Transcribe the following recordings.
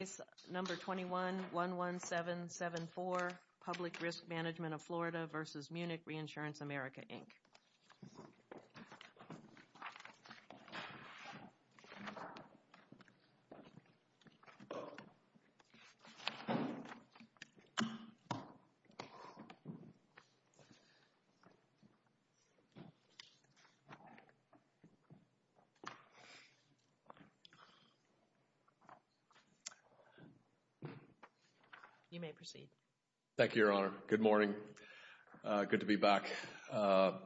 Case number 21-11774, Public Risk Management of Florida v. Munich Reinsurance America, Inc. You may proceed. Thank you, Your Honor. Good morning. Good to be back. Donovan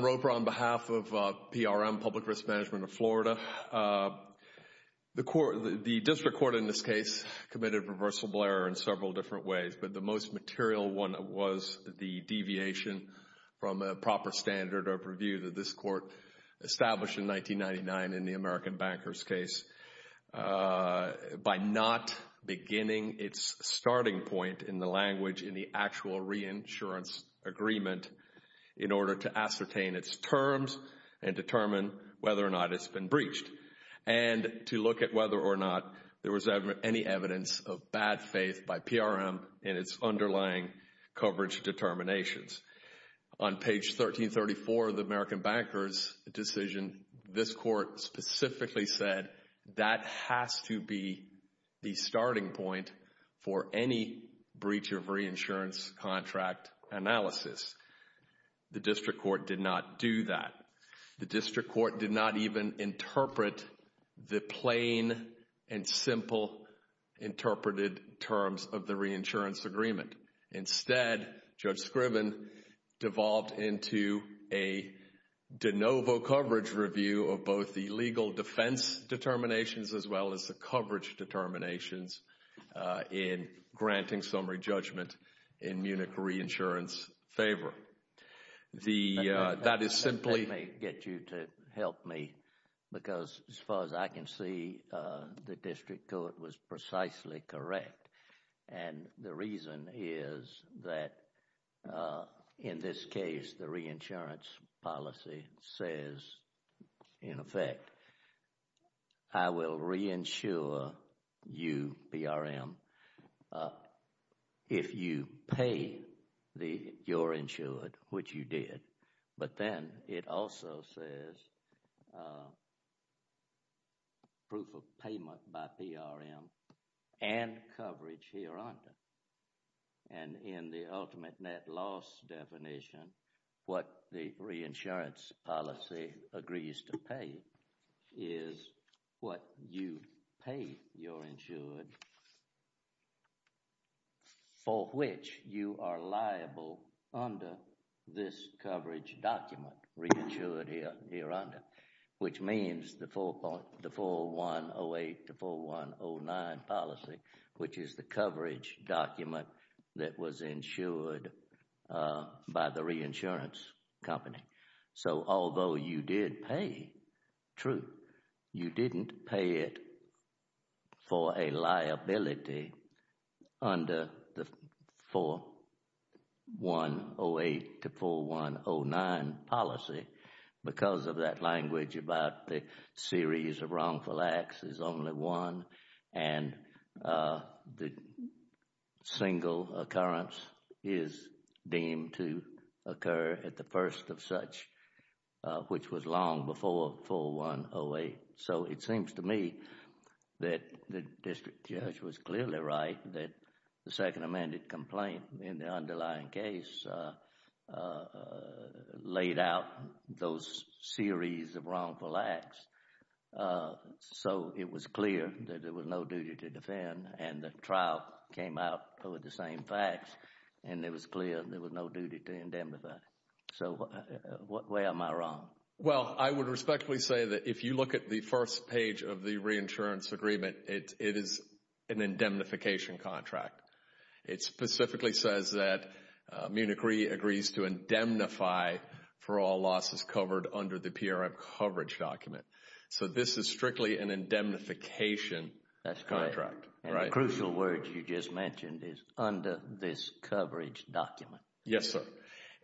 Roper on behalf of PRM, Public Risk Management of Florida. The district court in this case committed a reversible error in several different ways, but the most material one was the deviation from a proper standard of review that this court established in 1999 in the American Bankers case. By not beginning its starting point in the language in the actual reinsurance agreement in order to ascertain its terms and determine whether or not it's been breached. And to look at whether or not there was any evidence of bad faith by PRM in its underlying coverage determinations. On page 1334 of the American Bankers decision, this court specifically said that has to be the starting point for any breach of reinsurance contract analysis. The district court did not do that. The district court did not even interpret the plain and simple interpreted terms of the reinsurance agreement. Instead, Judge Scriven devolved into a de novo coverage review of both the legal defense determinations as well as the coverage determinations in granting summary judgment in Munich reinsurance favor. That is simply. Let me get you to help me because as far as I can see, the district court was precisely correct. And the reason is that in this case, the reinsurance policy says, in effect, I will reinsure you, PRM, if you pay your insured, which you did. But then it also says proof of payment by PRM and coverage here under. And in the ultimate net loss definition, what the reinsurance policy agrees to pay is what you pay your insured for which you are liable under this coverage document reinsured here under. Which means the 4108 to 4109 policy, which is the coverage document that was insured by the reinsurance company. So although you did pay, true, you didn't pay it for a liability under the 4108 to 4109 policy because of that language about the series of wrongful acts is only one. And the single occurrence is deemed to occur at the first of such, which was long before 4108. So it seems to me that the district judge was clearly right that the second amended complaint in the underlying case laid out those series of wrongful acts. So it was clear that there was no duty to defend and the trial came out with the same facts and it was clear there was no duty to indemnify. So where am I wrong? Well, I would respectfully say that if you look at the first page of the reinsurance agreement, it is an indemnification contract. It specifically says that Munich Re agrees to indemnify for all losses covered under the PRM coverage document. So this is strictly an indemnification contract. And the crucial word you just mentioned is under this coverage document. Yes, sir.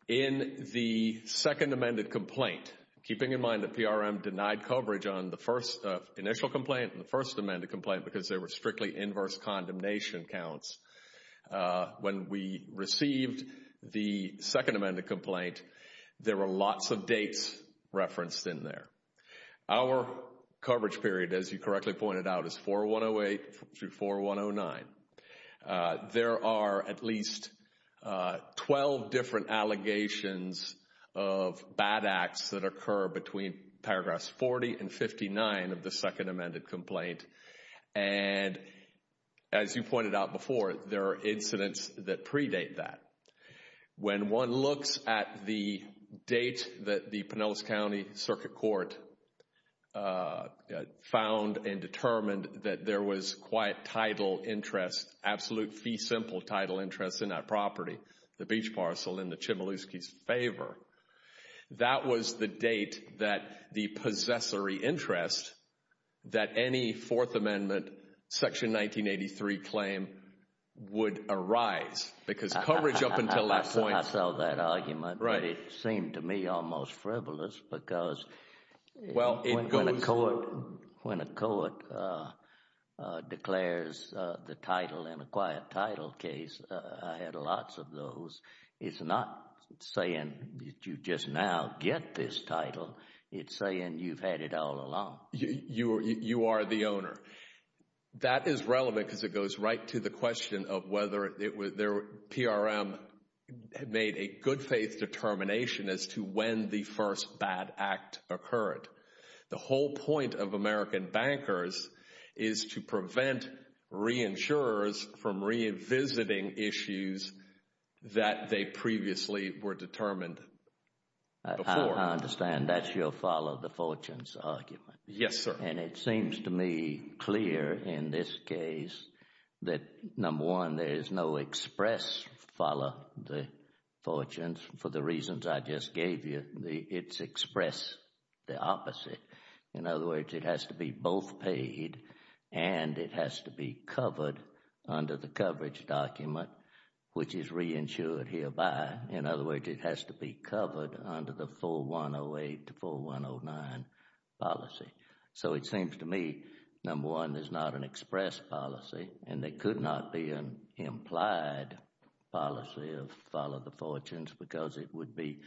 In the second amended complaint, keeping in mind that PRM denied coverage on the first initial complaint and the first amended complaint because there were strictly inverse condemnation counts. When we received the second amended complaint, there were lots of dates referenced in there. Our coverage period, as you correctly pointed out, is 4108 to 4109. There are at least 12 different allegations of bad acts that occur between paragraphs 40 and 59 of the second amended complaint. And as you pointed out before, there are incidents that predate that. When one looks at the date that the Pinellas County Circuit Court found and determined that there was quite title interest, absolute fee simple title interest in that property, the beach parcel in the Chmielewski's favor. That was the date that the possessory interest that any Fourth Amendment Section 1983 claim would arise because coverage up until that point. I saw that argument, but it seemed to me almost frivolous because when a court declares the title in a quiet title case, I had lots of those. It's not saying you just now get this title. It's saying you've had it all along. You are the owner. That is relevant because it goes right to the question of whether PRM made a good faith determination as to when the first bad act occurred. The whole point of American bankers is to prevent reinsurers from revisiting issues that they previously were determined before. I understand that's your follow the fortunes argument. Yes, sir. It seems to me clear in this case that number one, there is no express follow the fortunes for the reasons I just gave you. It's express the opposite. In other words, it has to be both paid and it has to be covered under the coverage document, which is reinsured hereby. In other words, it has to be covered under the 4108 to 4109 policy. It seems to me, number one, there's not an express policy and there could not be an implied policy of follow the fortunes because it would be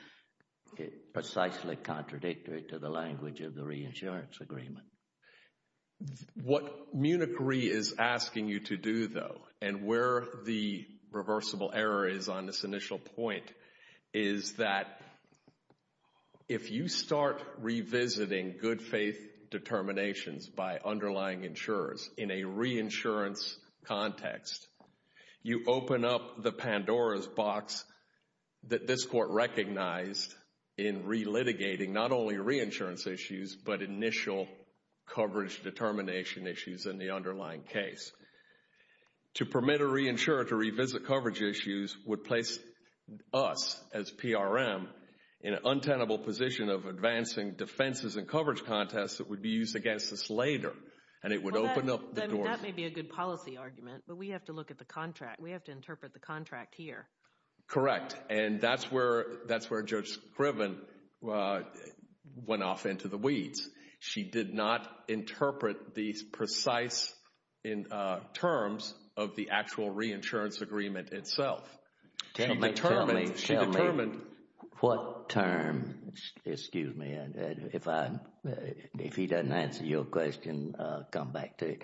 precisely contradictory to the language of the reinsurance agreement. What Munich Re is asking you to do, though, and where the reversible error is on this initial point, is that if you start revisiting good faith determinations by underlying insurers in a reinsurance context, you open up the Pandora's box that this court recognized in re-litigating not only reinsurance issues, but initial coverage determination issues in the underlying case. To permit a reinsurer to revisit coverage issues would place us as PRM in an untenable position of advancing defenses and coverage contests that would be used against us later. That may be a good policy argument, but we have to look at the contract. We have to interpret the contract here. Correct, and that's where Judge Scriven went off into the weeds. She did not interpret the precise terms of the actual reinsurance agreement itself. Tell me, what term, excuse me, if he doesn't answer your question, I'll come back to you.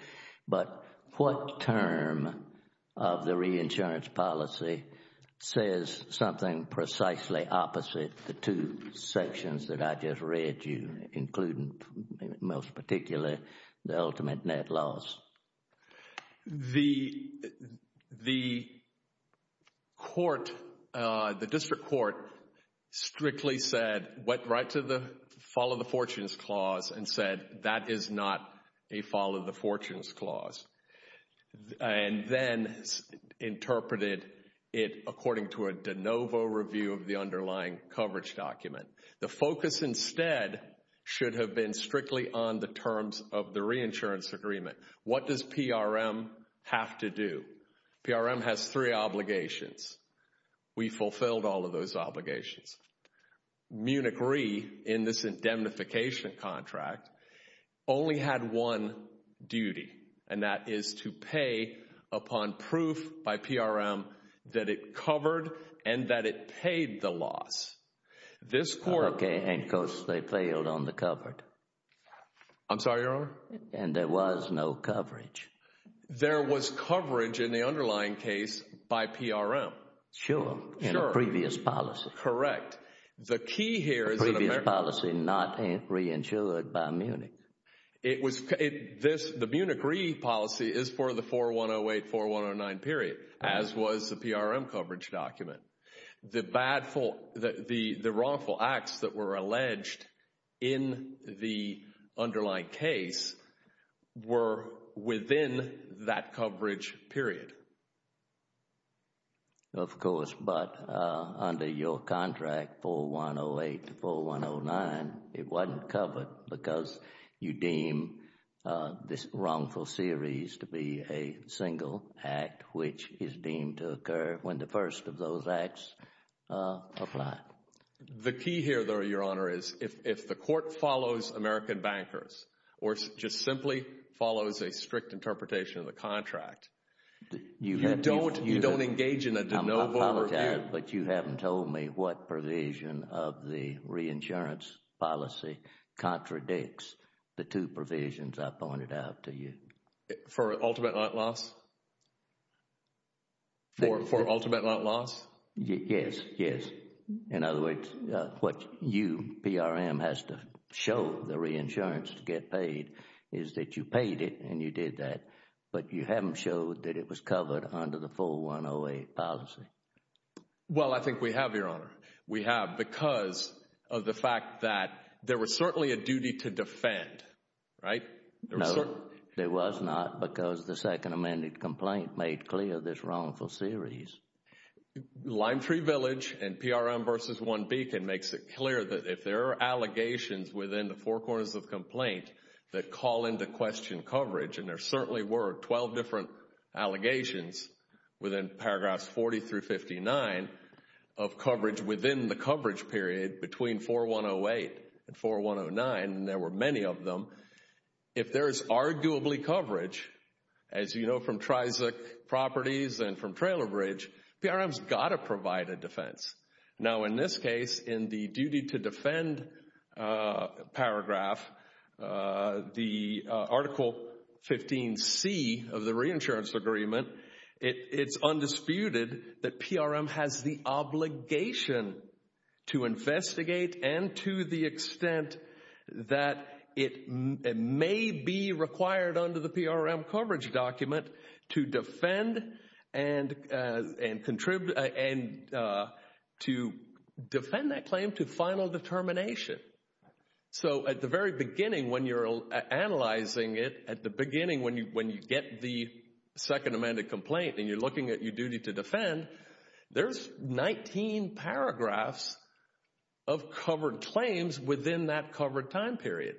But what term of the reinsurance policy says something precisely opposite the two sections that I just read you, including most particularly the ultimate net loss? The court, the district court, strictly said, went right to the follow the fortunes clause and said that is not a follow the fortunes clause. And then interpreted it according to a de novo review of the underlying coverage document. The focus instead should have been strictly on the terms of the reinsurance agreement. What does PRM have to do? PRM has three obligations. We fulfilled all of those obligations. Munich Re in this indemnification contract only had one duty, and that is to pay upon proof by PRM that it covered and that it paid the loss. Okay, and of course they failed on the covered. I'm sorry, Your Honor. And there was no coverage. There was coverage in the underlying case by PRM. Sure, in a previous policy. Correct. The key here is that a previous policy not reinsured by Munich. The Munich Re policy is for the 4108, 4109 period, as was the PRM coverage document. The wrongful acts that were alleged in the underlying case were within that coverage period. Of course, but under your contract, 4108 to 4109, it wasn't covered because you deem this wrongful series to be a single act which is deemed to occur when the first of those acts apply. The key here, though, Your Honor, is if the court follows American bankers or just simply follows a strict interpretation of the contract, you don't engage in a no vote review. I apologize, but you haven't told me what provision of the reinsurance policy contradicts the two provisions I pointed out to you. For ultimate loss? For ultimate loss? Yes, yes. In other words, what you, PRM, has to show the reinsurance to get paid is that you paid it and you did that, but you haven't showed that it was covered under the 4108 policy. Well, I think we have, Your Honor. We have because of the fact that there was certainly a duty to defend, right? No, there was not because the second amended complaint made clear this wrongful series. Line 3 Village and PRM v. 1 Beacon makes it clear that if there are allegations within the four corners of complaint that call into question coverage, and there certainly were 12 different allegations within paragraphs 40 through 59 of coverage within the coverage period between 4108 and 4109, and there were many of them, if there is arguably coverage, as you know from Trizic Properties and from Trailer Bridge, PRM's got to provide a defense. Now, in this case, in the duty to defend paragraph, the Article 15c of the reinsurance agreement, it's undisputed that PRM has the obligation to investigate and to the extent that it may be required under the PRM coverage document to defend and to defend that claim to final determination. So at the very beginning when you're analyzing it, at the beginning when you get the second amended complaint and you're looking at your duty to defend, there's 19 paragraphs of covered claims within that covered time period.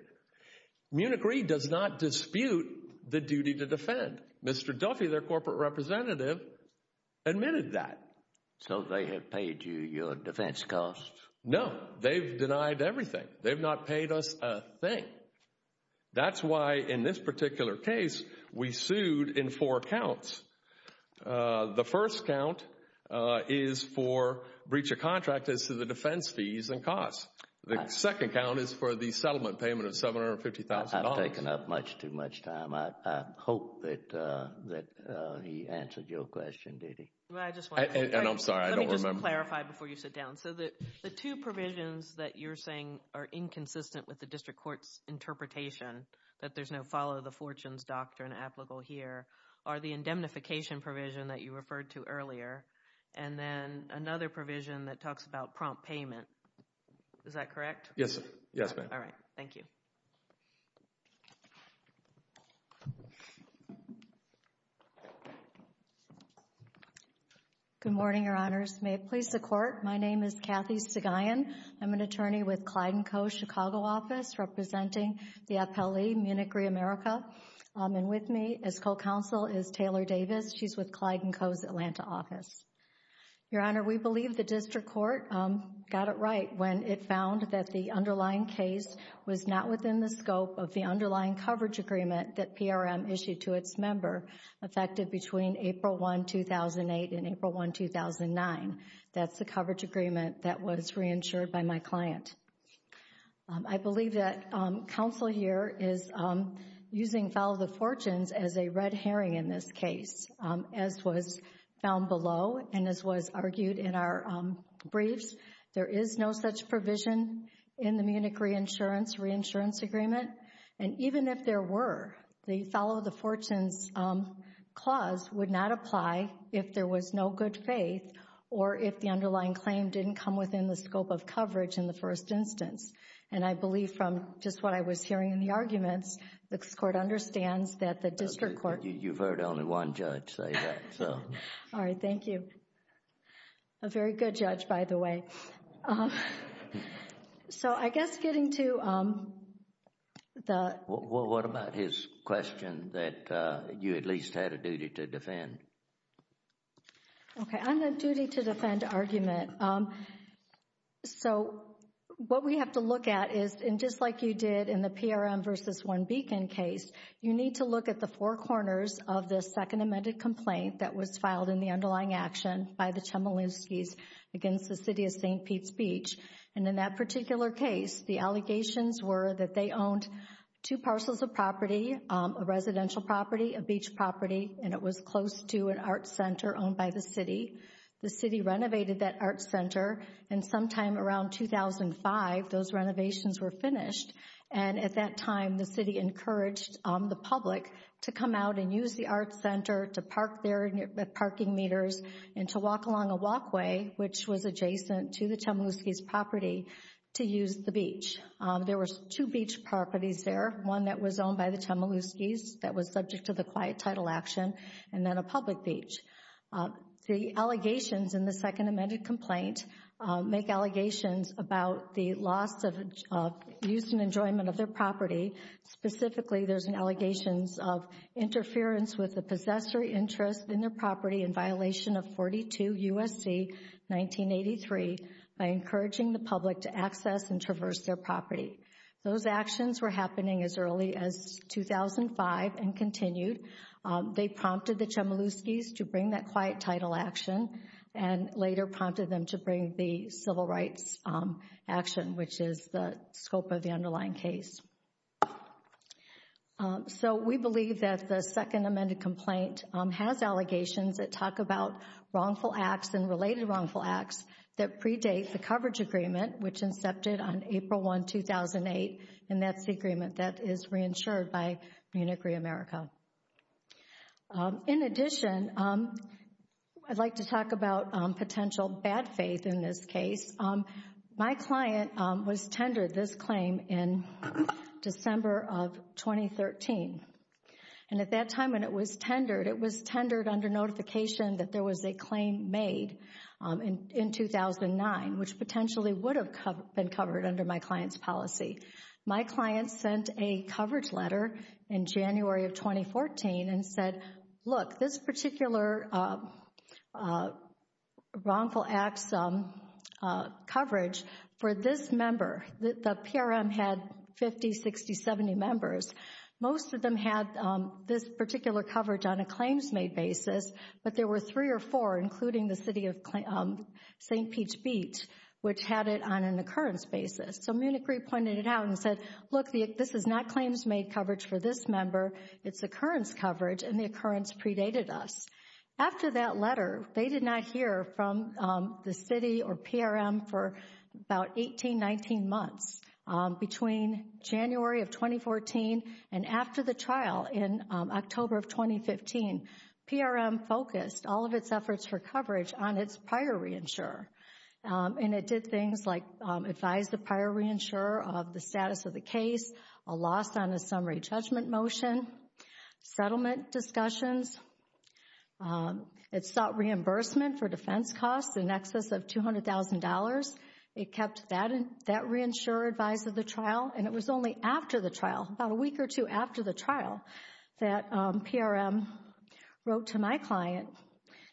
Munich Re does not dispute the duty to defend. Mr. Duffy, their corporate representative, admitted that. So they have paid you your defense costs? No, they've denied everything. They've not paid us a thing. That's why in this particular case, we sued in four counts. The first count is for breach of contract is to the defense fees and costs. The second count is for the settlement payment of $750,000. I've taken up much too much time. I hope that he answered your question, did he? I just want to say, let me just clarify before you sit down. So the two provisions that you're saying are inconsistent with the district court's interpretation, that there's no follow the fortunes doctrine applicable here, are the indemnification provision that you referred to earlier and then another provision that talks about prompt payment. Is that correct? Yes, ma'am. All right. Thank you. Good morning, your honors. May it please the court. My name is Kathy Segayan. I'm an attorney with Clyde & Co.'s Chicago office representing the FLE Munich ReAmerica. And with me as co-counsel is Taylor Davis. She's with Clyde & Co.'s Atlanta office. Your honor, we believe the district court got it right when it found that the underlying case was not within the scope of the underlying coverage agreement that PRM issued to its member, effective between April 1, 2008 and April 1, 2009. That's the coverage agreement that was reinsured by my client. I believe that counsel here is using follow the fortunes as a red herring in this case, as was found below and as was argued in our briefs. There is no such provision in the Munich reinsurance agreement. And even if there were, the follow the fortunes clause would not apply if there was no good faith or if the underlying claim didn't come within the scope of coverage in the first instance. And I believe from just what I was hearing in the arguments, the court understands that the district court You've heard only one judge say that, so All right. Thank you. A very good judge, by the way. So I guess getting to the What about his question that you at least had a duty to defend? Okay. On the duty to defend argument. So what we have to look at is, and just like you did in the PRM v. Warren Beacon case, You need to look at the four corners of the second amended complaint that was filed in the underlying action by the Chmielewski's against the city of St. Pete's Beach. And in that particular case, the allegations were that they owned two parcels of property, a residential property, a beach property. And it was close to an art center owned by the city. The city renovated that art center. And sometime around 2005, those renovations were finished. And at that time, the city encouraged the public to come out and use the art center to park their parking meters and to walk along a walkway, which was adjacent to the Chmielewski's property to use the beach. There were two beach properties there, one that was owned by the Chmielewski's that was subject to the quiet title action and then a public beach. The allegations in the second amended complaint make allegations about the loss of use and enjoyment of their property. Specifically, there's an allegations of interference with the possessory interest in their property in violation of 42 U.S.C. 1983 by encouraging the public to access and traverse their property. Those actions were happening as early as 2005 and continued. They prompted the Chmielewski's to bring that quiet title action and later prompted them to bring the civil rights action, which is the scope of the underlying case. So we believe that the second amended complaint has allegations that talk about wrongful acts and related wrongful acts that predate the coverage agreement, which incepted on April 1, 2008. And that's the agreement that is reinsured by Munich ReAmerica. In addition, I'd like to talk about potential bad faith in this case. My client was tendered this claim in December of 2013. And at that time when it was tendered, it was tendered under notification that there was a claim made in 2009, which potentially would have been covered under my client's policy. My client sent a coverage letter in January of 2014 and said, look, this particular wrongful acts coverage for this member, the PRM had 50, 60, 70 members. Most of them had this particular coverage on a claims made basis. But there were three or four, including the city of St. Pete's Beach, which had it on an occurrence basis. So Munich Re pointed it out and said, look, this is not claims made coverage for this member. It's occurrence coverage and the occurrence predated us. After that letter, they did not hear from the city or PRM for about 18, 19 months. Between January of 2014 and after the trial in October of 2015, PRM focused all of its efforts for coverage on its prior reinsure. And it did things like advise the prior reinsurer of the status of the case, a loss on a summary judgment motion, settlement discussions. It sought reimbursement for defense costs in excess of $200,000. It kept that reinsurer advised of the trial. And it was only after the trial, about a week or two after the trial, that PRM wrote to my client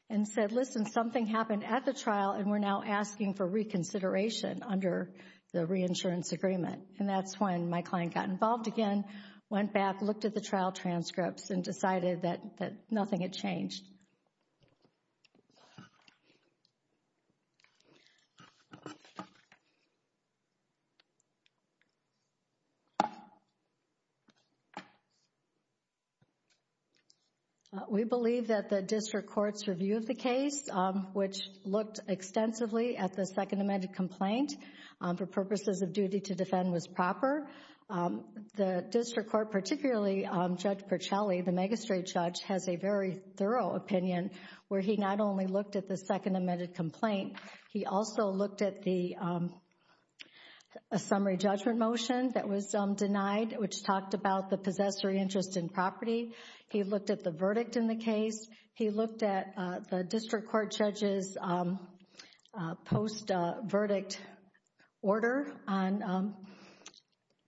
and said, listen, something happened at the trial and we're now asking for reconsideration under the reinsurance agreement. And that's when my client got involved again, went back, looked at the trial transcripts and decided that nothing had changed. We believe that the district court's review of the case, which looked extensively at the second amended complaint for purposes of duty to defend, was proper. The district court, particularly Judge Percelli, the Megastreet judge, has a very thorough opinion where he not only looked at the second amended complaint, he also looked at the summary judgment motion that was denied, which talked about the possessory interest in property. He looked at the verdict in the case. He looked at the district court judge's post-verdict order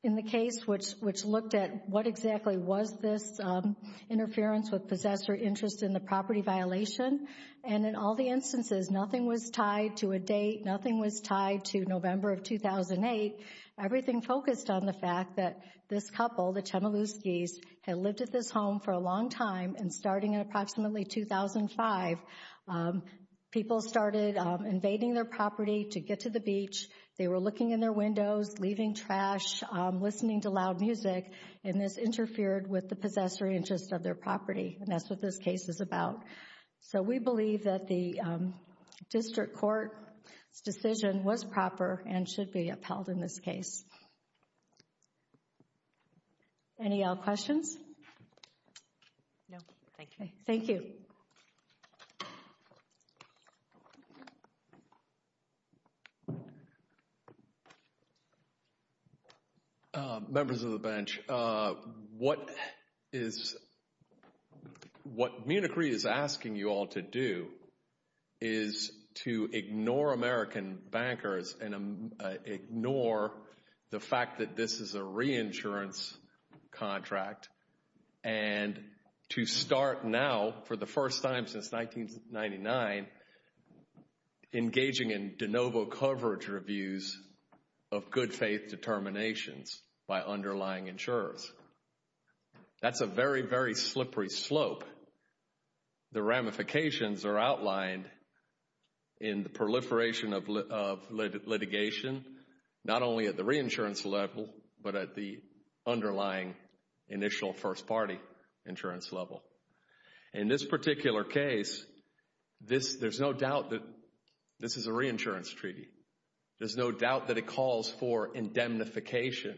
in the case, which looked at what exactly was this interference with possessory interest in the property violation. And in all the instances, nothing was tied to a date. Nothing was tied to November of 2008. Everything focused on the fact that this couple, the Chmielewskis, had lived at this home for a long time. And starting in approximately 2005, people started invading their property to get to the beach. They were looking in their windows, leaving trash, listening to loud music. And this interfered with the possessory interest of their property. And that's what this case is about. So we believe that the district court's decision was proper and should be upheld in this case. Any questions? No, thank you. Thank you. Members of the bench, what is – what Munich Re is asking you all to do is to ignore American bankers and ignore the fact that this is a reinsurance contract. And to start now, for the first time since 1999, engaging in de novo coverage reviews of good faith determinations by underlying insurers. That's a very, very slippery slope. The ramifications are outlined in the proliferation of litigation, not only at the reinsurance level, but at the underlying initial first party insurance level. In this particular case, there's no doubt that this is a reinsurance treaty. There's no doubt that it calls for indemnification.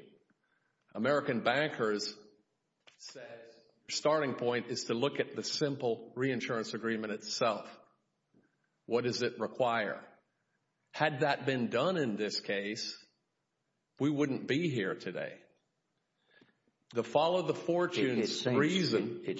American bankers said the starting point is to look at the simple reinsurance agreement itself. What does it require? Had that been done in this case, we wouldn't be here today. The follow the fortunes reason – and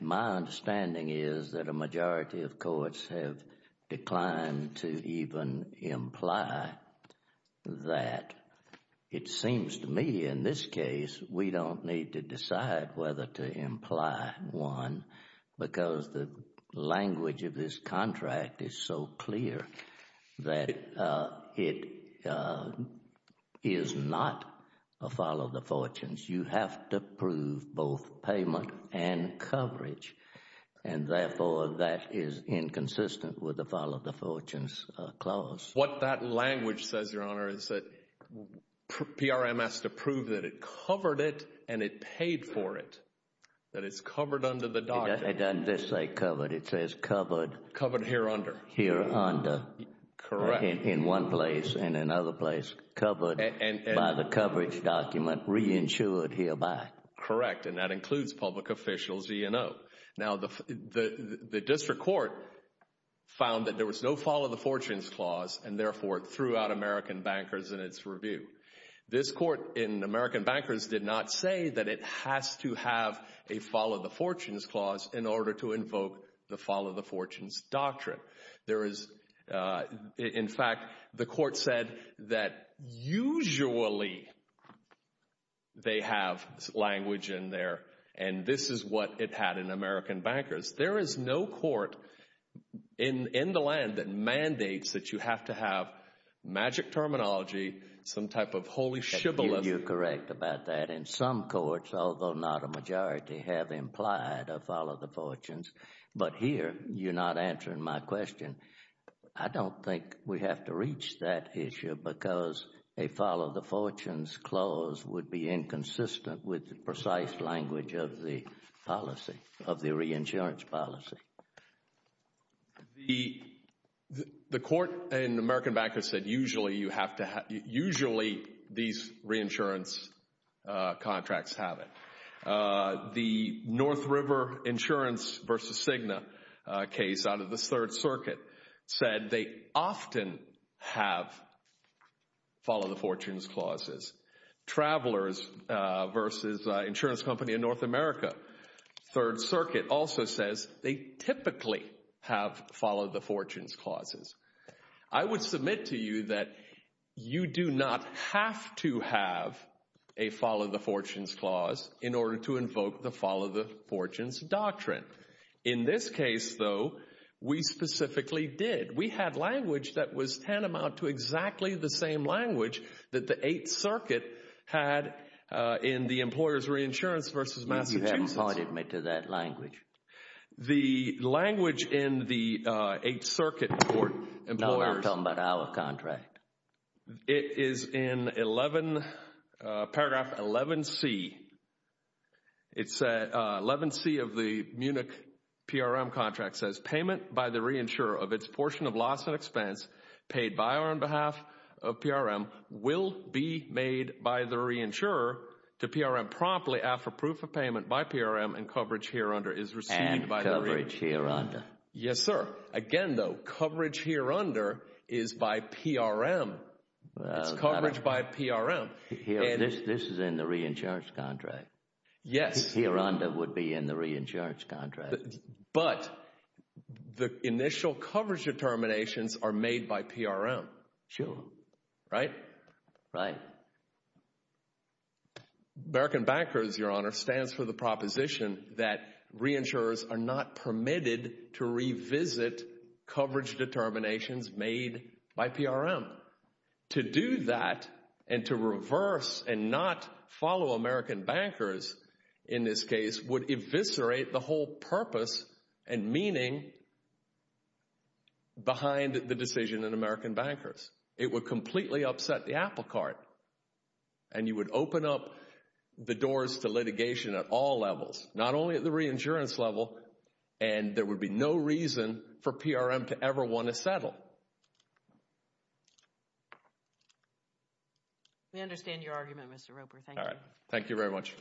my understanding is that a majority of courts have declined to even imply that. It seems to me in this case we don't need to decide whether to imply one because the language of this contract is so clear that it is not a follow the fortunes. You have to prove both payment and coverage. And therefore, that is inconsistent with the follow the fortunes clause. What that language says, Your Honor, is that PRM has to prove that it covered it and it paid for it. That it's covered under the document. It doesn't just say covered. It says covered. Covered here under. Here under. Correct. In one place and another place. Covered by the coverage document. Reinsured hereby. Correct. And that includes public officials E and O. Now, the district court found that there was no follow the fortunes clause and therefore threw out American bankers in its review. This court in American bankers did not say that it has to have a follow the fortunes clause in order to invoke the follow the fortunes doctrine. There is, in fact, the court said that usually they have language in there and this is what it had in American bankers. There is no court in the land that mandates that you have to have magic terminology, some type of holy shibboleth. You're correct about that. In some courts, although not a majority, have implied a follow the fortunes. But here, you're not answering my question. I don't think we have to reach that issue because a follow the fortunes clause would be inconsistent with the precise language of the policy, of the reinsurance policy. The court in American bankers said usually you have to have, usually these reinsurance contracts have it. The North River Insurance v. Cigna case out of the Third Circuit said they often have follow the fortunes clauses. Travelers v. Insurance Company of North America, Third Circuit also says they typically have follow the fortunes clauses. I would submit to you that you do not have to have a follow the fortunes clause in order to invoke the follow the fortunes doctrine. In this case, though, we specifically did. We had language that was tantamount to exactly the same language that the Eighth Circuit had in the employer's reinsurance v. Massachusetts. You haven't pointed me to that language. The language in the Eighth Circuit for employers. No, I'm talking about our contract. It is in paragraph 11C. It's 11C of the Munich PRM contract. It says payment by the reinsurer of its portion of loss and expense paid by or on behalf of PRM will be made by the reinsurer to PRM promptly after proof of payment by PRM and coverage here under is received by the reinsurer. And coverage here under. Yes, sir. Again, though, coverage here under is by PRM. It's coverage by PRM. This is in the reinsurance contract. Yes. Here under would be in the reinsurance contract. But the initial coverage determinations are made by PRM. Sure. Right? Right. American Bankers, Your Honor, stands for the proposition that reinsurers are not permitted to revisit coverage determinations made by PRM. To do that and to reverse and not follow American Bankers in this case would eviscerate the whole purpose and meaning behind the decision in American Bankers. It would completely upset the apple cart. And you would open up the doors to litigation at all levels, not only at the reinsurance level, and there would be no reason for PRM to ever want to settle. We understand your argument, Mr. Roper. Thank you. All right. Thank you very much. All right. Thank you. Our next case.